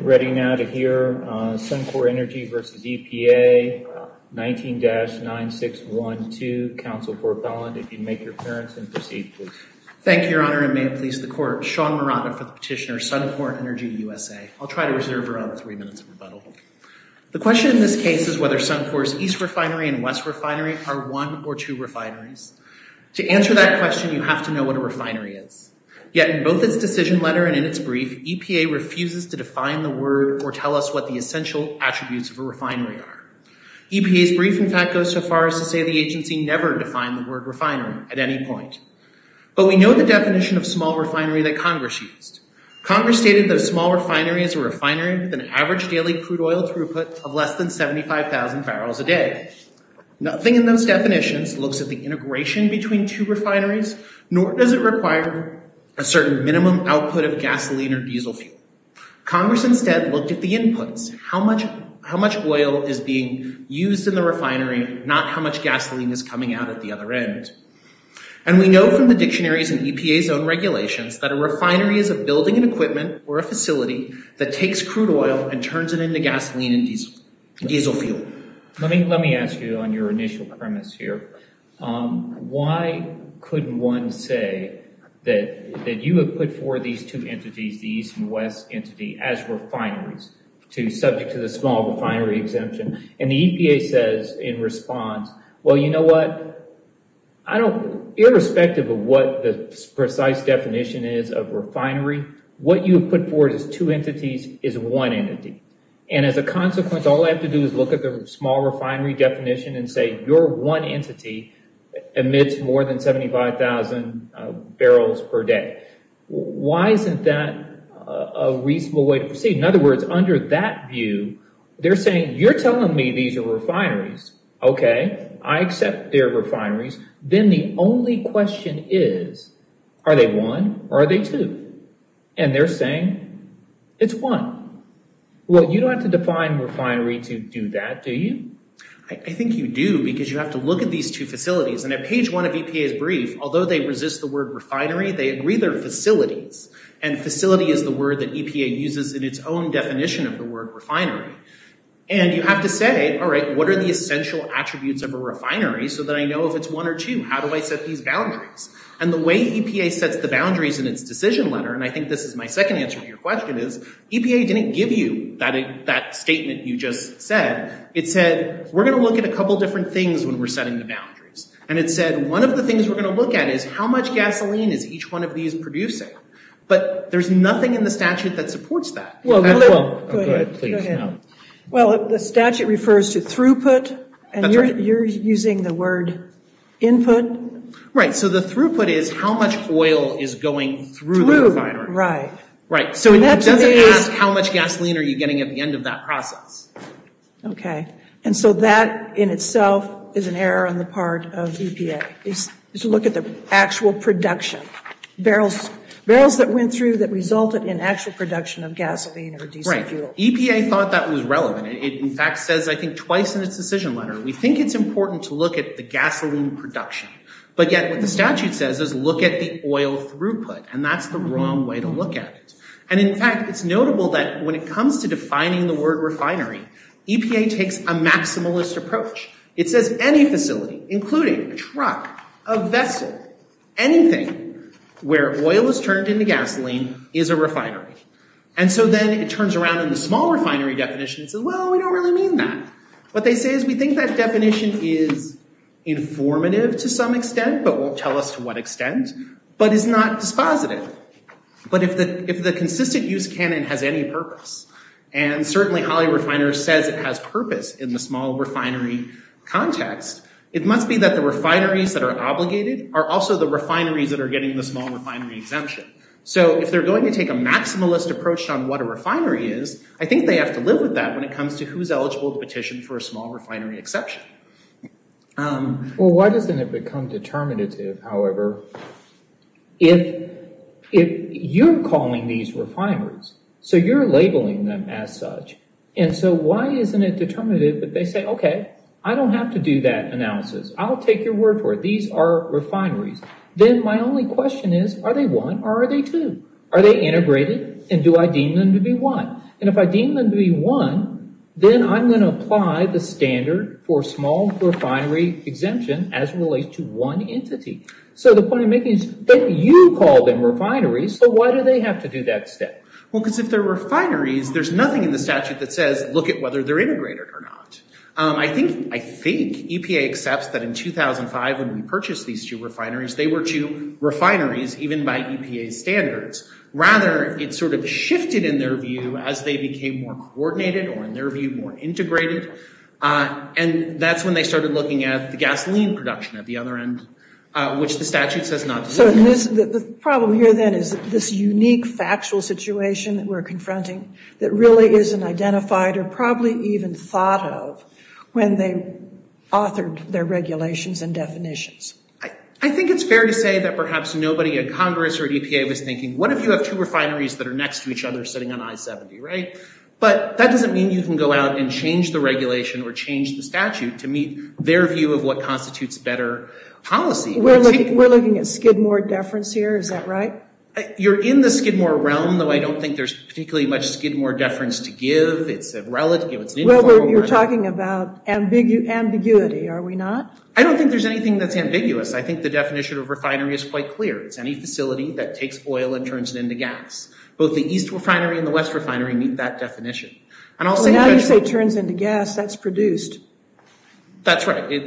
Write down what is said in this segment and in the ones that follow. Ready now to hear Suncor Energy v. EPA, 19-9612. Counsel for Belland, if you'd make your appearance and proceed, please. Thank you, Your Honor, and may it please the Court, Sean Murata for the petitioner Suncor Energy USA. I'll try to reserve around three minutes of rebuttal. The question in this case is whether Suncor's East Refinery and West Refinery are one or two refineries. To answer that question, you have to know what a refinery is. Yet in both its decision letter and in its brief, EPA refuses to define the word or tell us what the essential attributes of a refinery are. EPA's brief, in fact, goes so far as to say the agency never defined the word refinery at any point. But we know the definition of small refinery that Congress used. Congress stated that a small refinery is a refinery with an average daily crude oil throughput of less than 75,000 barrels a day. Nothing in those definitions looks at the integration between two refineries, nor does it require a certain minimum output of gasoline or diesel fuel. Congress instead looked at the inputs, how much oil is being used in the refinery, not how much gasoline is coming out at the other end. And we know from the dictionaries and EPA's own regulations that a refinery is a building and equipment or a facility that takes crude oil and turns it into gasoline and diesel fuel. Let me ask you on your initial premise here. Why couldn't one say that you have put forward these two entities, the East and West entity, as refineries, subject to the small refinery exemption? And the EPA says in response, well you know what, irrespective of what the precise definition is of refinery, what you have put forward as two entities is one small refinery definition and say your one entity emits more than 75,000 barrels per day. Why isn't that a reasonable way to proceed? In other words, under that view, they're saying you're telling me these are refineries, okay, I accept they're refineries, then the only question is are they one or are they two? And they're saying it's one. Well you don't have to define refinery to do that, do you? I think you do because you have to look at these two facilities and at page one of EPA's brief, although they resist the word refinery, they agree they're facilities. And facility is the word that EPA uses in its own definition of the word refinery. And you have to say, all right, what are the essential attributes of a refinery so that I know if it's one or two? How do I set these boundaries? And the way EPA sets the boundaries in its decision letter, and I think this is my second answer to your question, is EPA didn't give you that statement you just said. It said we're going to look at a couple different things when we're setting the boundaries. And it said one of the things we're going to look at is how much gasoline is each one of these producing? But there's nothing in the statute that supports that. Well the statute refers to throughput, and you're using the word input. Right, so the throughput is how much oil is going through the refinery. Right, so it doesn't ask how much gasoline are you producing in the process. Okay, and so that in itself is an error on the part of EPA. It's to look at the actual production. Barrels that went through that resulted in actual production of gasoline or diesel fuel. Right, EPA thought that was relevant. It in fact says, I think twice in its decision letter, we think it's important to look at the gasoline production. But yet what the statute says is look at the oil throughput, and that's the wrong way to look at it. And in fact it's notable that when it comes to defining the word refinery, EPA takes a maximalist approach. It says any facility, including a truck, a vessel, anything where oil is turned into gasoline is a refinery. And so then it turns around in the small refinery definition and says, well we don't really mean that. What they say is we think that definition is informative to some extent, but won't tell us to what extent it has any purpose. And certainly Holley Refiners says it has purpose in the small refinery context. It must be that the refineries that are obligated are also the refineries that are getting the small refinery exemption. So if they're going to take a maximalist approach on what a refinery is, I think they have to live with that when it comes to who's eligible to petition for a small refinery exception. Well why doesn't it become determinative, however, if you're calling these refineries, so you're labeling them as such, and so why isn't it determinative that they say, okay, I don't have to do that analysis. I'll take your word for it. These are refineries. Then my only question is, are they one or are they two? Are they integrated and do I deem them to be one? And if I deem them to be one, then I'm going to apply the standard for small refinery exemption as relates to one entity. So the point I'm making is that you call them refineries, so why do they have to do that step? Well because if they're refineries, there's nothing in the statute that says look at whether they're integrated or not. I think EPA accepts that in 2005 when we purchased these two refineries, they were two refineries even by EPA standards. Rather, it sort of shifted in their view as they became more coordinated or in their view more integrated, and that's when they started looking at the gasoline production at the other end, which the statute says not to do. So the problem here then is this unique factual situation that we're confronting that really isn't identified or probably even thought of when they authored their regulations and definitions. I think it's fair to say that perhaps nobody at Congress or EPA was thinking, what if you have two refineries that are next to each other sitting on I-70, right? But that doesn't mean you can go out and change the regulation or change the statute to meet their view of what constitutes better policy. We're looking at Skidmore deference here, is that right? You're in the Skidmore realm, though I don't think there's particularly much Skidmore deference to give. You're talking about ambiguity, are we not? I don't think there's anything that's ambiguous. I think the definition of refinery is quite clear. It's any facility that takes oil and turns it into gas. Both the East refinery and the West refinery meet that definition. Now you say turns into gas, that's produced. That's right. I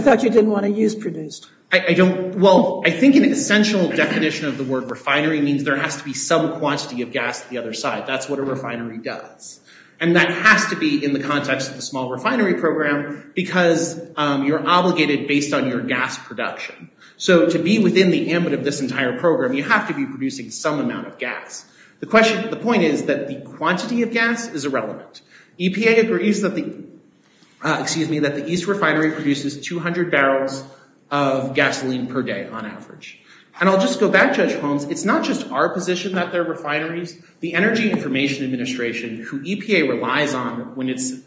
thought you didn't want to use produced. Well, I think an essential definition of the word refinery means there has to be some quantity of gas at the other side. That's what a refinery does. And that has to be in the context of the small refinery program because you're obligated based on your gas production. So to be within the ambit of this entire program, you have to be producing some amount of gas. The point is that the quantity of gas is irrelevant. EPA agrees that the East refinery produces 200 barrels of gasoline per day on average. And I'll just go back, Judge Holmes, it's not just our position that they're refineries. The Energy Information Administration, who EPA relies on when it's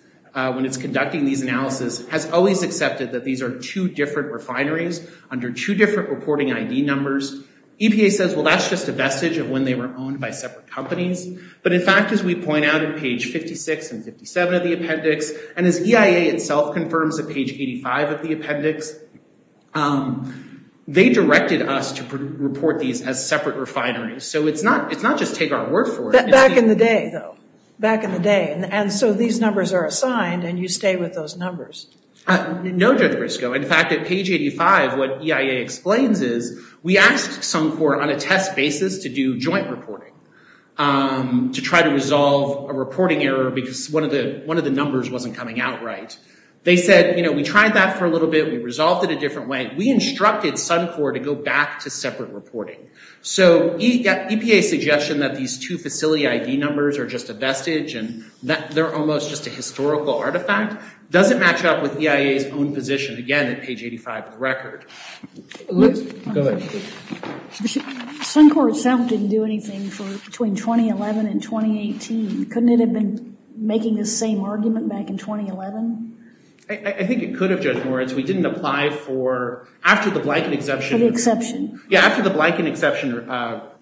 conducting these analysis, has always accepted that these are two different refineries under two different reporting ID numbers. EPA says, well that's just a vestige of when they were owned by the appendix and 57 of the appendix. And as EIA itself confirms at page 85 of the appendix, they directed us to report these as separate refineries. So it's not just take our word for it. Back in the day though. Back in the day. And so these numbers are assigned and you stay with those numbers. No, Judge Briscoe. In fact, at page 85 what EIA explains is we asked some court on a test basis to do joint reporting. To try to resolve a reporting error because one of the numbers wasn't coming out right. They said, you know, we tried that for a little bit. We resolved it a different way. We instructed Suncor to go back to separate reporting. So EPA's suggestion that these two facility ID numbers are just a vestige and that they're almost just a historical artifact doesn't match up with EIA's own position. Again, at page 85 of the record. Go ahead. Suncor itself didn't do anything for between 2011 and 2018. Couldn't it have been making the same argument back in 2011? I think it could have, Judge Moritz. We didn't apply for, after the Blanken exception. The exception. Yeah, after the Blanken exception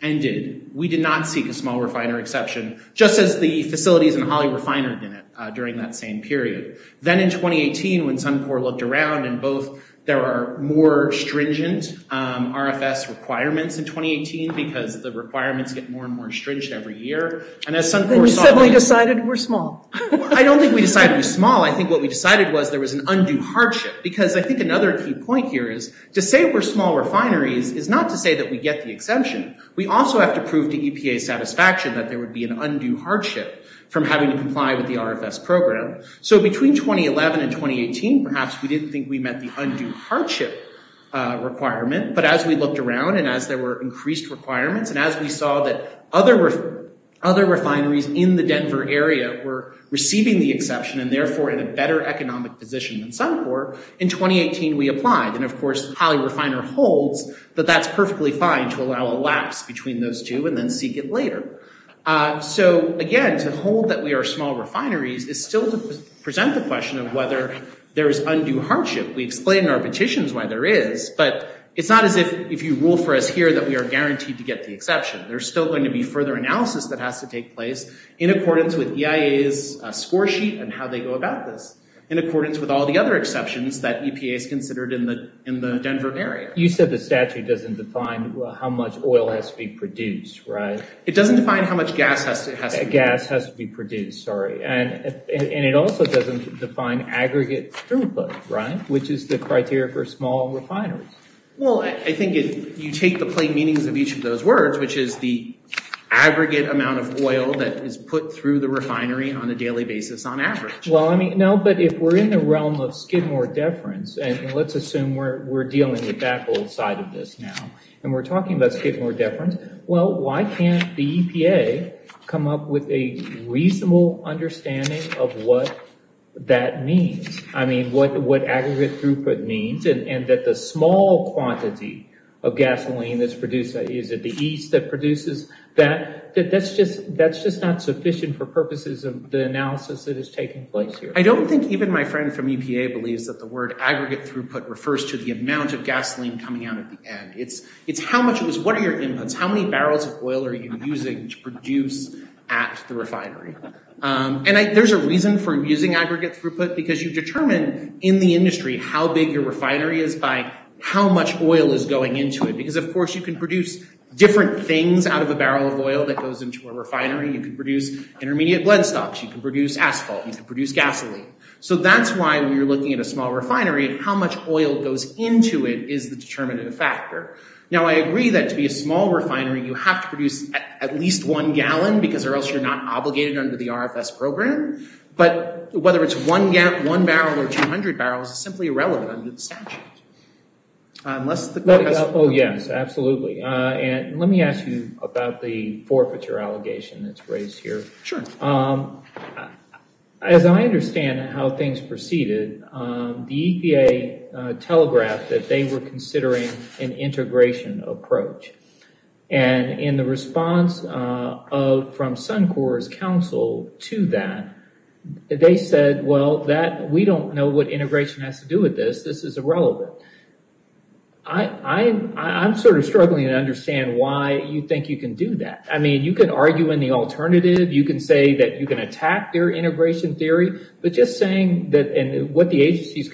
ended, we did not seek a small refiner exception. Just as the facilities and Holley refiner didn't during that same period. Then in 2018 when Suncor looked around and both there are more stringent RFS requirements in 2018 because the requirements get more and more stringent every year. And as Suncor saw... You said we decided we're small. I don't think we decided we're small. I think what we decided was there was an undue hardship. Because I think another key point here is to say we're small refineries is not to say that we get the exemption. We also have to prove to EPA satisfaction that there would be an undue hardship from having to comply with the RFS program. So between 2011 and 2018 perhaps we didn't think we met the undue hardship requirement. But as we looked around and as there were increased requirements and as we saw that other refineries in the Denver area were receiving the exception and therefore in a better economic position than Suncor, in 2018 we applied. And of course Holley refiner holds that that's perfectly fine to allow a lapse between those two and then seek it later. So again to hold that we are small refineries is still to present the question of whether there's undue hardship. We explain in our petitions why there is, but it's not as if if you rule for us here that we are guaranteed to get the exception. There's still going to be further analysis that has to take place in accordance with EIA's score sheet and how they go about this. In accordance with all the other exceptions that EPA is considered in the Denver area. You said the statute doesn't define how much oil has to be produced, right? It doesn't define how much gas has to be produced. And it also doesn't define aggregate throughput, right? Which is the criteria for small refineries. Well I think if you take the plain meanings of each of those words, which is the aggregate amount of oil that is put through the refinery on a daily basis on average. Well I mean no, but if we're in the realm of Skidmore deference and let's assume we're dealing with that side of this now and we're come up with a reasonable understanding of what that means. I mean what aggregate throughput means and that the small quantity of gasoline that's produced, is it the ease that produces that? That's just that's just not sufficient for purposes of the analysis that is taking place here. I don't think even my friend from EPA believes that the word aggregate throughput refers to the amount of gasoline coming out at the end. It's how much it was, what are inputs, how many barrels of oil are you using to produce at the refinery? And there's a reason for using aggregate throughput because you determine in the industry how big your refinery is by how much oil is going into it. Because of course you can produce different things out of a barrel of oil that goes into a refinery. You can produce intermediate blend stocks, you can produce asphalt, you can produce gasoline. So that's why when you're looking at a small refinery, how much oil goes into it is the determinative factor. Now I agree that to be a small refinery you have to produce at least one gallon because or else you're not obligated under the RFS program. But whether it's one gap one barrel or 200 barrels is simply irrelevant under the statute. Oh yes absolutely. And let me ask you about the forfeiture allegation that's raised here. Sure. As I understand how things proceeded, the EPA telegraphed that they were considering an integration approach. And in the response of from Suncor's counsel to that, they said well that we don't know what integration has to do with this, this is irrelevant. I'm sort of struggling to understand why you think you can do that. I mean you can argue in the alternative, you can say that you can attack their integration theory, but just saying that and what the seems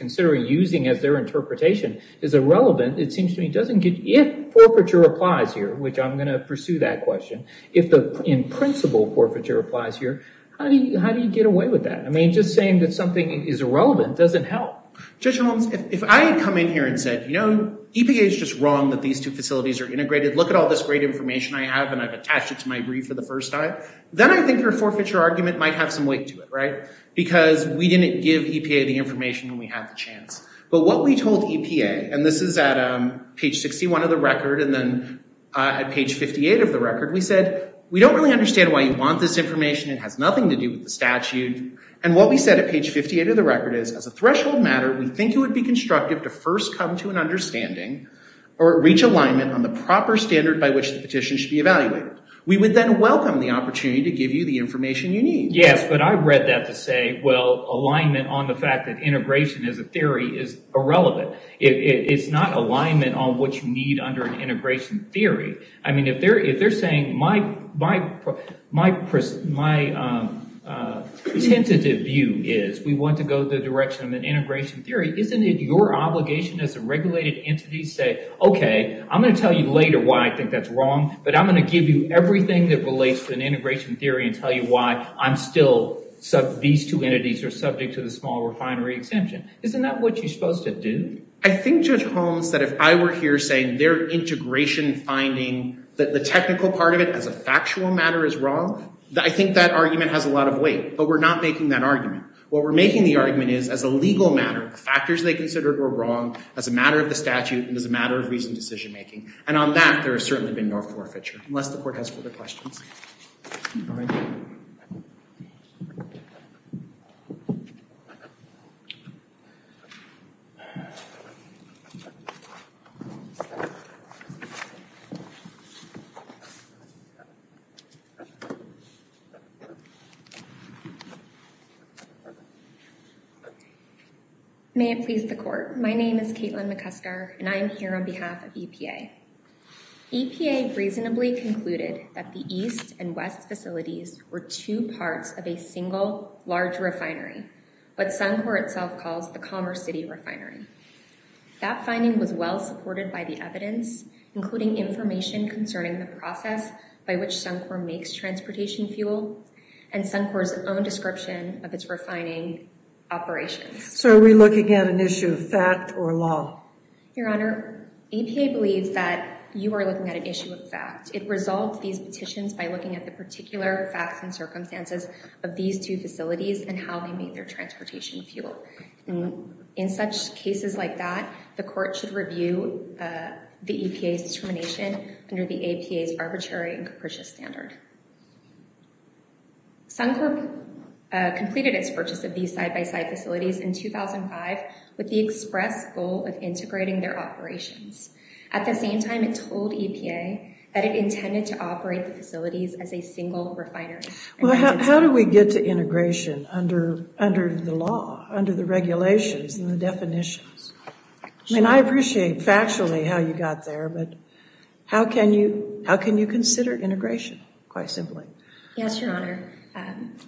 to me doesn't get, if forfeiture applies here, which I'm going to pursue that question, if the in principle forfeiture applies here, how do you get away with that? I mean just saying that something is irrelevant doesn't help. Judge Holmes, if I had come in here and said you know EPA is just wrong that these two facilities are integrated, look at all this great information I have and I've attached it to my brief for the first time, then I think your forfeiture argument might have some weight to it, right? Because we didn't give EPA the opportunity to give you the information you need. Yes, but I read that to say well alignment on the fact that integration is a theory is irrelevant. It's not alignment on what you need under an integration theory. I mean if they're saying my tentative view is we want to go the direction of an integration theory, isn't it your obligation as a regulated entity to say okay I'm going to tell you later why I think that's wrong, but I'm going to give you everything that relates to an integration theory and tell you why I'm still, these two entities are subject to the small refinery exemption. Isn't that what you're supposed to do? I think Judge Holmes that if I were here saying their integration finding that the technical part of it as a factual matter is wrong, I think that argument has a lot of weight, but we're not making that argument. What we're making the argument is as a legal matter, the factors they considered were wrong as a matter of the statute and as a matter of reason decision-making and on that there has certainly been no forfeiture, unless the court. May it please the court, my name is Caitlin McCusker and I'm here on behalf of EPA. EPA reasonably concluded that the East and West facilities were two parts of a single large refinery, what Suncor itself calls the Commerce City refinery. That finding was well supported by the evidence, including information concerning the process by which Suncor makes transportation fuel and Suncor's own description of its refining operations. So are we looking at an issue of fact or law? Your Honor, EPA believes that you are looking at an issue of fact. It resolved these petitions by looking at the particular facts and of these two facilities and how they made their transportation fuel. In such cases like that, the court should review the EPA's determination under the APA's arbitrary and capricious standard. Suncor completed its purchase of these side-by-side facilities in 2005 with the express goal of integrating their operations. At the same time, it told EPA that it intended to operate the How do you get to integration under the law, under the regulations and the definitions? I mean, I appreciate factually how you got there, but how can you consider integration, quite simply? Yes, Your Honor.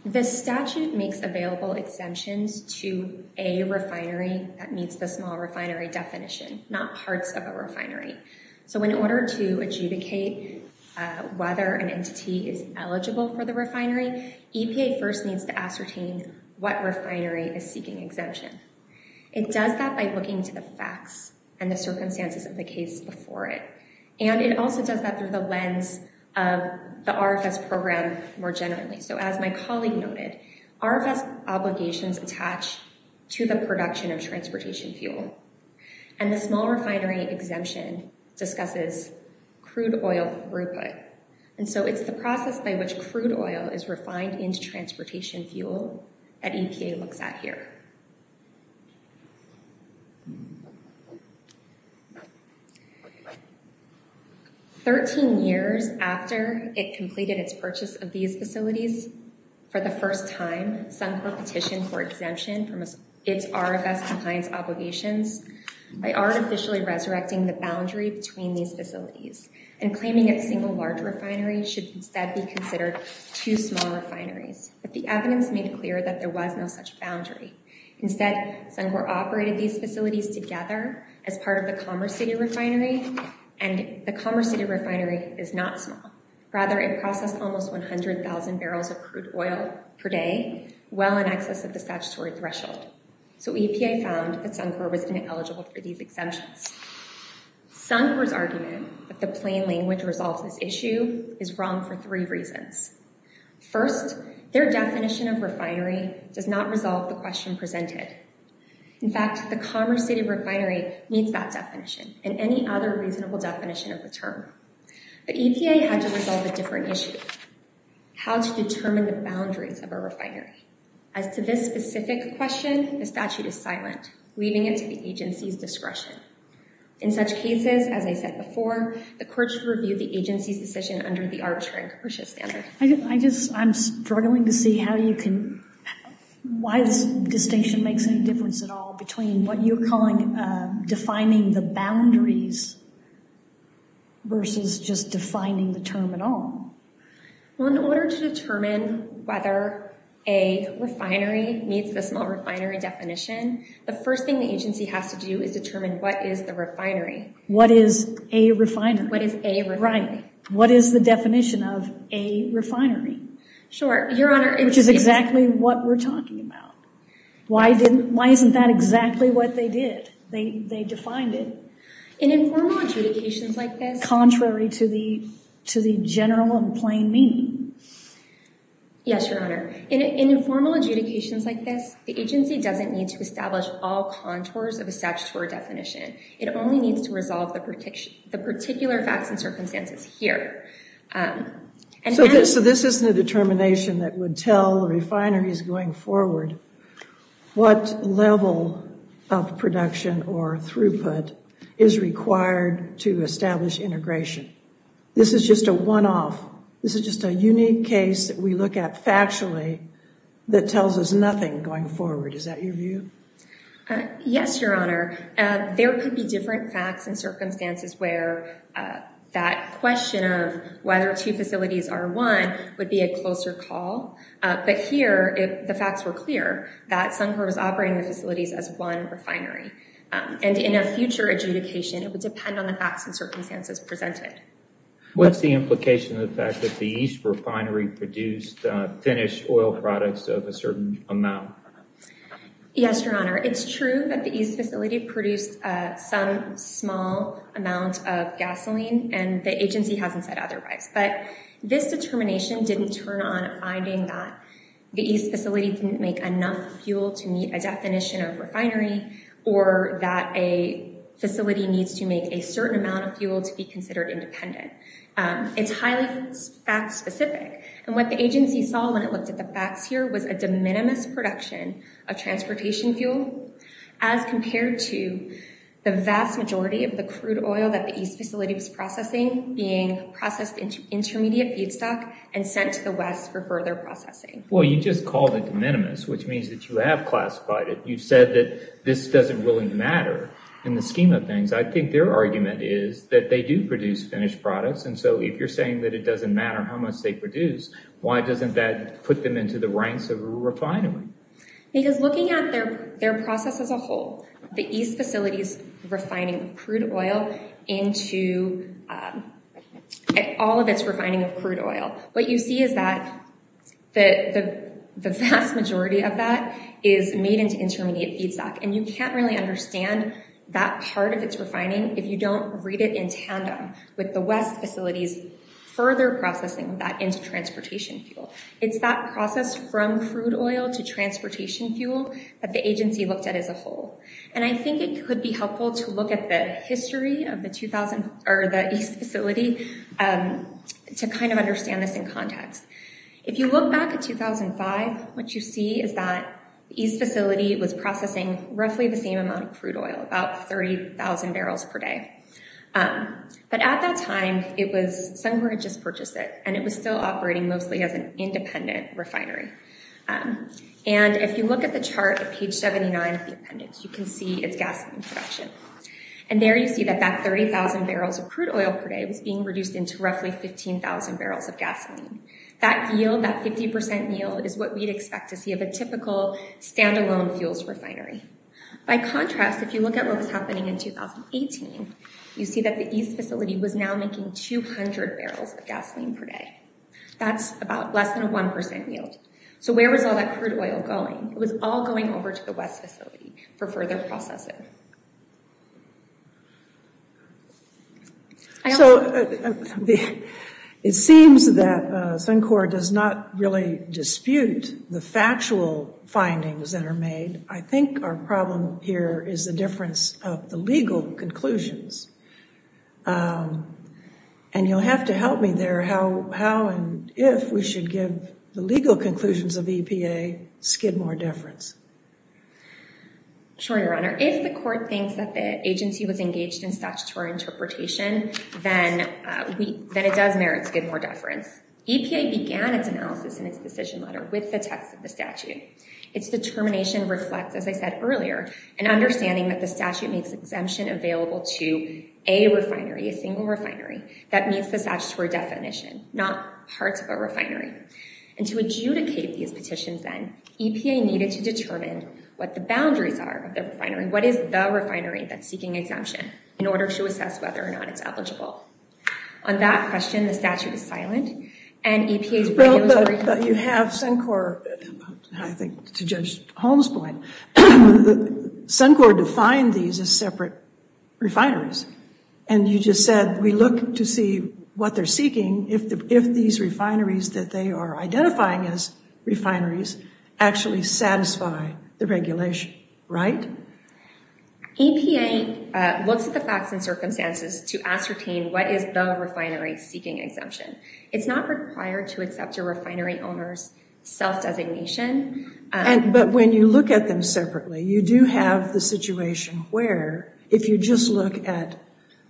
The statute makes available exemptions to a refinery that meets the small refinery definition, not parts of a refinery. So in order to adjudicate whether an entity is eligible for the refinery, EPA first needs to ascertain what refinery is seeking exemption. It does that by looking to the facts and the circumstances of the case before it, and it also does that through the lens of the RFS program more generally. So as my colleague noted, RFS obligations attach to the production of transportation fuel, and the small refinery exemption discusses crude oil throughput. And so it's the process by which crude oil is refined into transportation fuel that EPA looks at here. Thirteen years after it completed its purchase of these facilities, for the first time, Suncor petitioned for exemption from its RFS compliance obligations by artificially resurrecting the boundary between these facilities and claiming that single large refineries should instead be considered two small refineries. But the evidence made clear that there was no such boundary. Instead, Suncor operated these facilities together as part of the Commerce City refinery, and the Commerce City refinery is not small. Rather, it processed almost 100,000 barrels of crude oil per day, well in excess of the statutory threshold. So EPA found that Suncor was ineligible for these exemptions. Suncor's argument that the plain language resolves this issue is wrong for three reasons. First, their definition of refinery does not resolve the question presented. In fact, the Commerce City refinery meets that definition and any other reasonable definition of the term. But EPA had to resolve a different issue, how to determine the boundaries of a refinery. As to this specific question, the statute is silent, leaving it to the agency's discretion. In such cases, as I said before, the court should review the agency's decision under the arbitrary commercial standard. I just, I'm struggling to see how you can, why this distinction makes any difference at all between what you're calling defining the boundaries versus just defining the term at all. Well, in order to determine whether a refinery meets the small refinery definition, the first thing the agency has to do is determine what is the refinery. What is a refinery? What is a refinery? Right. What is the definition of a refinery? Sure. Your Honor. Which is exactly what we're talking about. Why didn't, why isn't that exactly what they did? They, they defined it. In informal adjudications like this. Contrary to the, to the general and plain meaning. Yes, Your Honor. In informal adjudications like this, the agency doesn't need to establish all contours of a statutory definition. It only needs to resolve the particular, the particular facts and circumstances here. So this, so this isn't a determination that would tell refineries going forward what level of production or throughput is required to establish integration. This is just a one-off. This is just a unique case that you look at factually that tells us nothing going forward. Is that your view? Yes, Your Honor. There could be different facts and circumstances where that question of whether two facilities are one would be a closer call. But here, if the facts were clear, that Suncor was operating the facilities as one refinery. And in a future adjudication, it would depend on the facts and circumstances presented. What's the implication of the fact that the East refinery produced Finnish oil products of a certain amount? Yes, Your Honor. It's true that the East facility produced some small amount of gasoline and the agency hasn't said otherwise. But this determination didn't turn on finding that the East facility didn't make enough fuel to meet a definition of refinery or that a certain amount of fuel to be considered independent. It's highly fact-specific. And what the agency saw when it looked at the facts here was a de minimis production of transportation fuel as compared to the vast majority of the crude oil that the East facility was processing being processed into intermediate feedstock and sent to the West for further processing. Well, you just called it de minimis, which means that you have classified it. You've said that this doesn't really matter in the scheme of things. I think their argument is that they do produce Finnish products. And so if you're saying that it doesn't matter how much they produce, why doesn't that put them into the ranks of a refinery? Because looking at their process as a whole, the East facility's refining crude oil into all of its refining of crude oil, what you see is that the vast majority of that is made into intermediate feedstock. And you can't really understand that part of its refining if you don't read it in tandem with the West facilities further processing that into transportation fuel. It's that process from crude oil to transportation fuel that the agency looked at as a whole. And I think it could be helpful to look at the history of the East facility to kind of understand this in context. If you look back at 2005, what you see is that East facility was processing roughly the same amount of crude oil, about 30,000 barrels per day. But at that time, it was somewhere it just purchased it, and it was still operating mostly as an independent refinery. And if you look at the chart at page 79 of the appendix, you can see its gasoline production. And there you see that that 30,000 barrels of crude oil per day was being reduced into roughly 15,000 barrels of gasoline. That yield, that 50% yield, is what we'd expect to see of a typical standalone fuels refinery. By contrast, if you look at what was happening in 2018, you see that the East facility was now making 200 barrels of gasoline per day. That's about less than a 1% yield. So where was all that crude oil going? It was all going over to the West facility for further processing. So it seems that Suncor does not really dispute the factual findings that were made. I think our problem here is the difference of the legal conclusions. And you'll have to help me there how and if we should give the legal conclusions of EPA skid more deference. Sure, Your Honor. If the court thinks that the agency was engaged in statutory interpretation, then it does merit skid more deference. EPA began its analysis in its decision letter with the statute. Its determination reflects, as I said earlier, an understanding that the statute makes exemption available to a refinery, a single refinery, that meets the statutory definition, not parts of a refinery. And to adjudicate these petitions, then, EPA needed to determine what the boundaries are of the refinery. What is the refinery that's seeking exemption in order to assess whether or not it's eligible? On that question, the statute is silent and EPA's brainwashing... You have Suncor, I think to Judge Holmes' point, Suncor defined these as separate refineries. And you just said we look to see what they're seeking if these refineries that they are identifying as refineries actually satisfy the regulation, right? EPA looks at the facts and circumstances to ascertain what is the refinery seeking exemption. It's not required to accept a refinery owner's self-designation. But when you look at them separately, you do have the situation where, if you just look at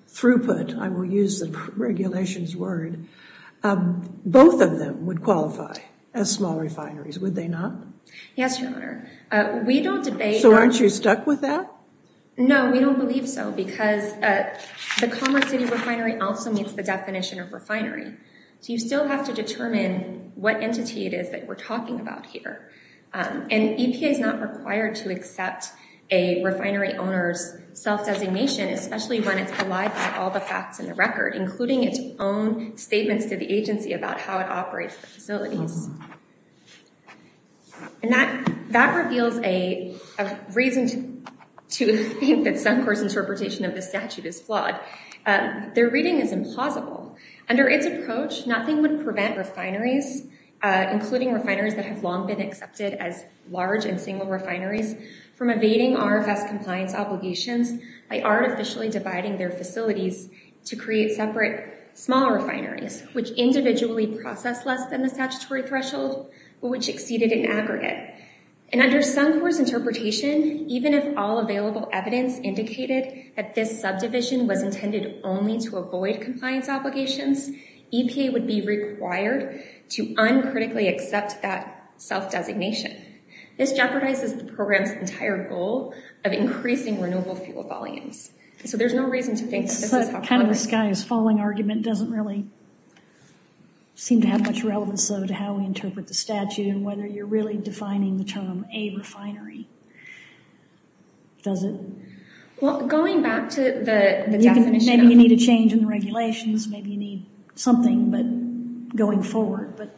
throughput, I will use the regulations word, both of them would qualify as small refineries, would they not? Yes, Your Honor. We don't debate... So aren't you stuck with that? No, we don't believe so because the Commerce City Refinery also meets the definition of refinery. So you still have to determine what entity it is that we're talking about here. And EPA is not required to accept a refinery owner's self-designation, especially when it's belied by all the facts in the record, including its own statements to the agency about how it operates the facilities. And that reveals a reason to think that Suncor's interpretation of the statute is flawed. Their reading is implausible. Under its approach, nothing would prevent refineries, including refineries that have long been accepted as large and single refineries, from evading RFS compliance obligations by artificially dividing their facilities to create separate small refineries, which individually process less than the statutory threshold, which exceeded an aggregate. And under Suncor's interpretation, even if all available evidence indicated that this subdivision was intended only to avoid compliance obligations, EPA would be required to uncritically accept that self-designation. This jeopardizes the program's entire goal of increasing renewable fuel volumes. So there's no reason to think that this is how it works. So kind of this guy's falling argument doesn't really seem to have much relevance, though, to how we interpret the statute and whether you're really defining the term a refinery. Does it? Well, going back to the definition, maybe you need a change in the regulations, maybe you need something, but going forward, but...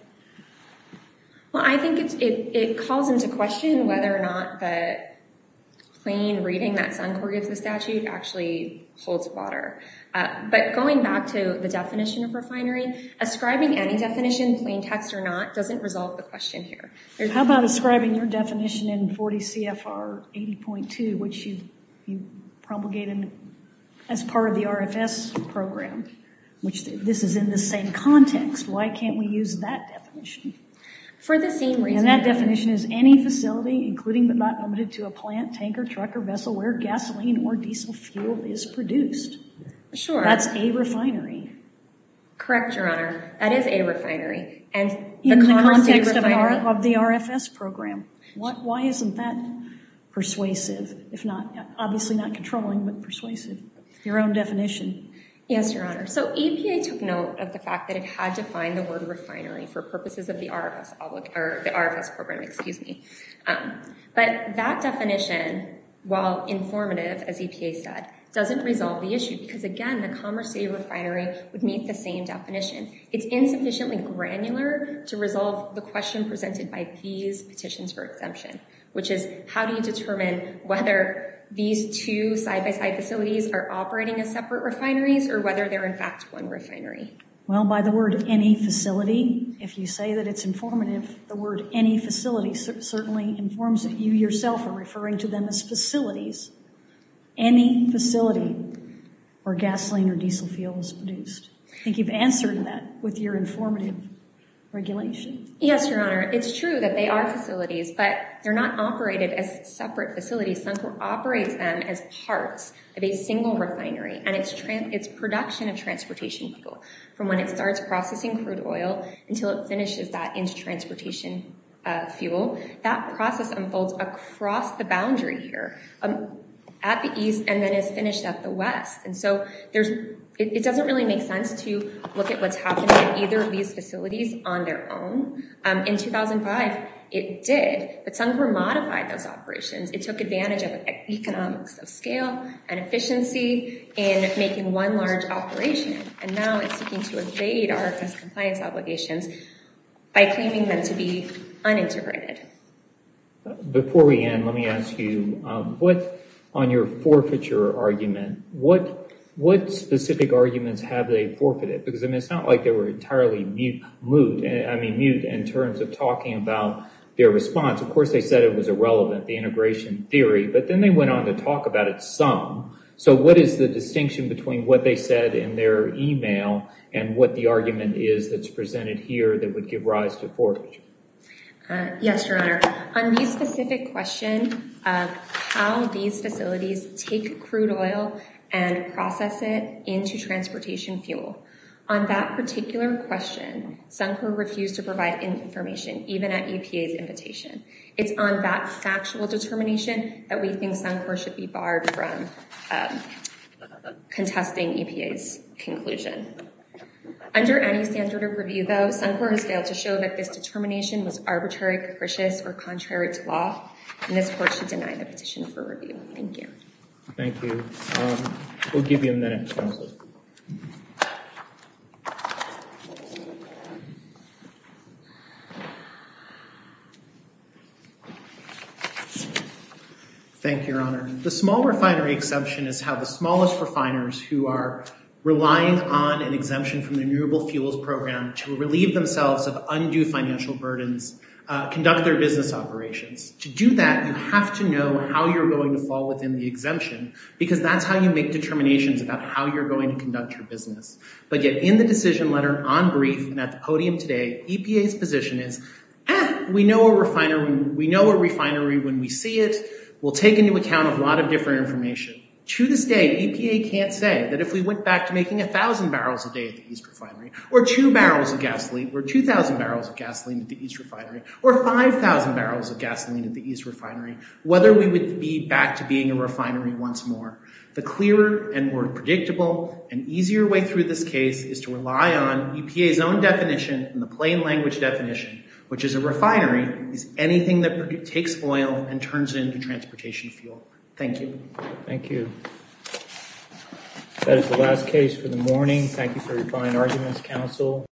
Well, I think it calls into question whether or not the plain reading that Suncor gives the statute actually holds water. But going back to the definition of refinery, ascribing any definition, plain text or not, doesn't resolve the question here. How about ascribing your definition in 40 CFR 80.2, which you promulgated as part of the RFS program, which this is in the same context. Why can't we use that definition? For the same reason. And that definition is any facility, including but not limited to a plant, tanker, truck, or vessel, where gasoline or diesel fuel is produced. Sure. That's a refinery. Correct, Your Honor. That is a refinery. And in the context of the RFS program, why isn't that persuasive? If not, obviously not controlling, but persuasive. Your own definition. Yes, Your Honor. So EPA took note of the fact that it had to find the word refinery for purposes of the RFS program, excuse me. But that definition, while informative, as EPA said, doesn't resolve the issue because, again, the Commerce City Refinery would meet the same definition. It's insufficiently granular to resolve the question presented by these petitions for exemption, which is how do you determine whether these two side-by-side facilities are operating as separate refineries or whether they're in fact one refinery? Well, by the word any facility, if you say that it's informative, the word any facility certainly informs that you yourself are referring to them as facilities. Any facility where gasoline or diesel fuel is produced. I think you've answered that with your informative regulation. Yes, Your Honor. It's true that they are facilities, but they're not operated as separate facilities. Suncor operates them as parts of a single refinery and it's production of transportation fuel from when it starts processing crude oil until it finishes that into transportation fuel. That process unfolds across the boundary here at the east and then is finished at the west. It doesn't really make sense to look at what's happening in either of these facilities on their own. In 2005, it did, but Suncor modified those operations. It took advantage of economics of scale and efficiency in making one large operation and now it's seeking to evade our compliance obligations by claiming them to be uninterrupted. Before we end, let me ask you what on your forfeiture argument, what specific arguments have they forfeited? Because it's not like they were entirely mute in terms of talking about their response. Of course, they said it was irrelevant, the integration theory, but then they went on to talk about it some. So what is the distinction between what they said in their email and what the argument is that's presented here that would give rise to forfeiture? Yes, Your Honor. On the specific question of how these vehicles can extract crude oil and process it into transportation fuel, on that particular question, Suncor refused to provide any information, even at EPA's invitation. It's on that factual determination that we think Suncor should be barred from contesting EPA's conclusion. Under any standard of review, though, Suncor has failed to show that this determination was arbitrary, capricious, or contrary to law, and this court should deny the petition for review. Thank you. Thank you. We'll give you a minute. Thank you, Your Honor. The small refinery exception is how the smallest refiners who are relying on an exemption from the Renewable Fuels Program to relieve themselves of undue financial burdens conduct their business operations. To do that, you have to know how you're going to fall within the exemption, because that's how you make determinations about how you're going to conduct your business. But yet in the decision letter, on brief, and at the podium today, EPA's position is, eh, we know a refinery when we see it. We'll take into account a lot of different information. To this day, EPA can't say that if we went back to making a thousand barrels a day at the East Refinery, or 2,000 barrels of gasoline at the East Refinery, or 5,000 barrels of gasoline at the East Refinery, whether we would be back to being a refinery once more. The clearer and more predictable and easier way through this case is to rely on EPA's own definition and the plain language definition, which is a refinery is anything that takes oil and turns it into transportation fuel. Thank you. Thank you. That is the last case for the morning. Thank you for your fine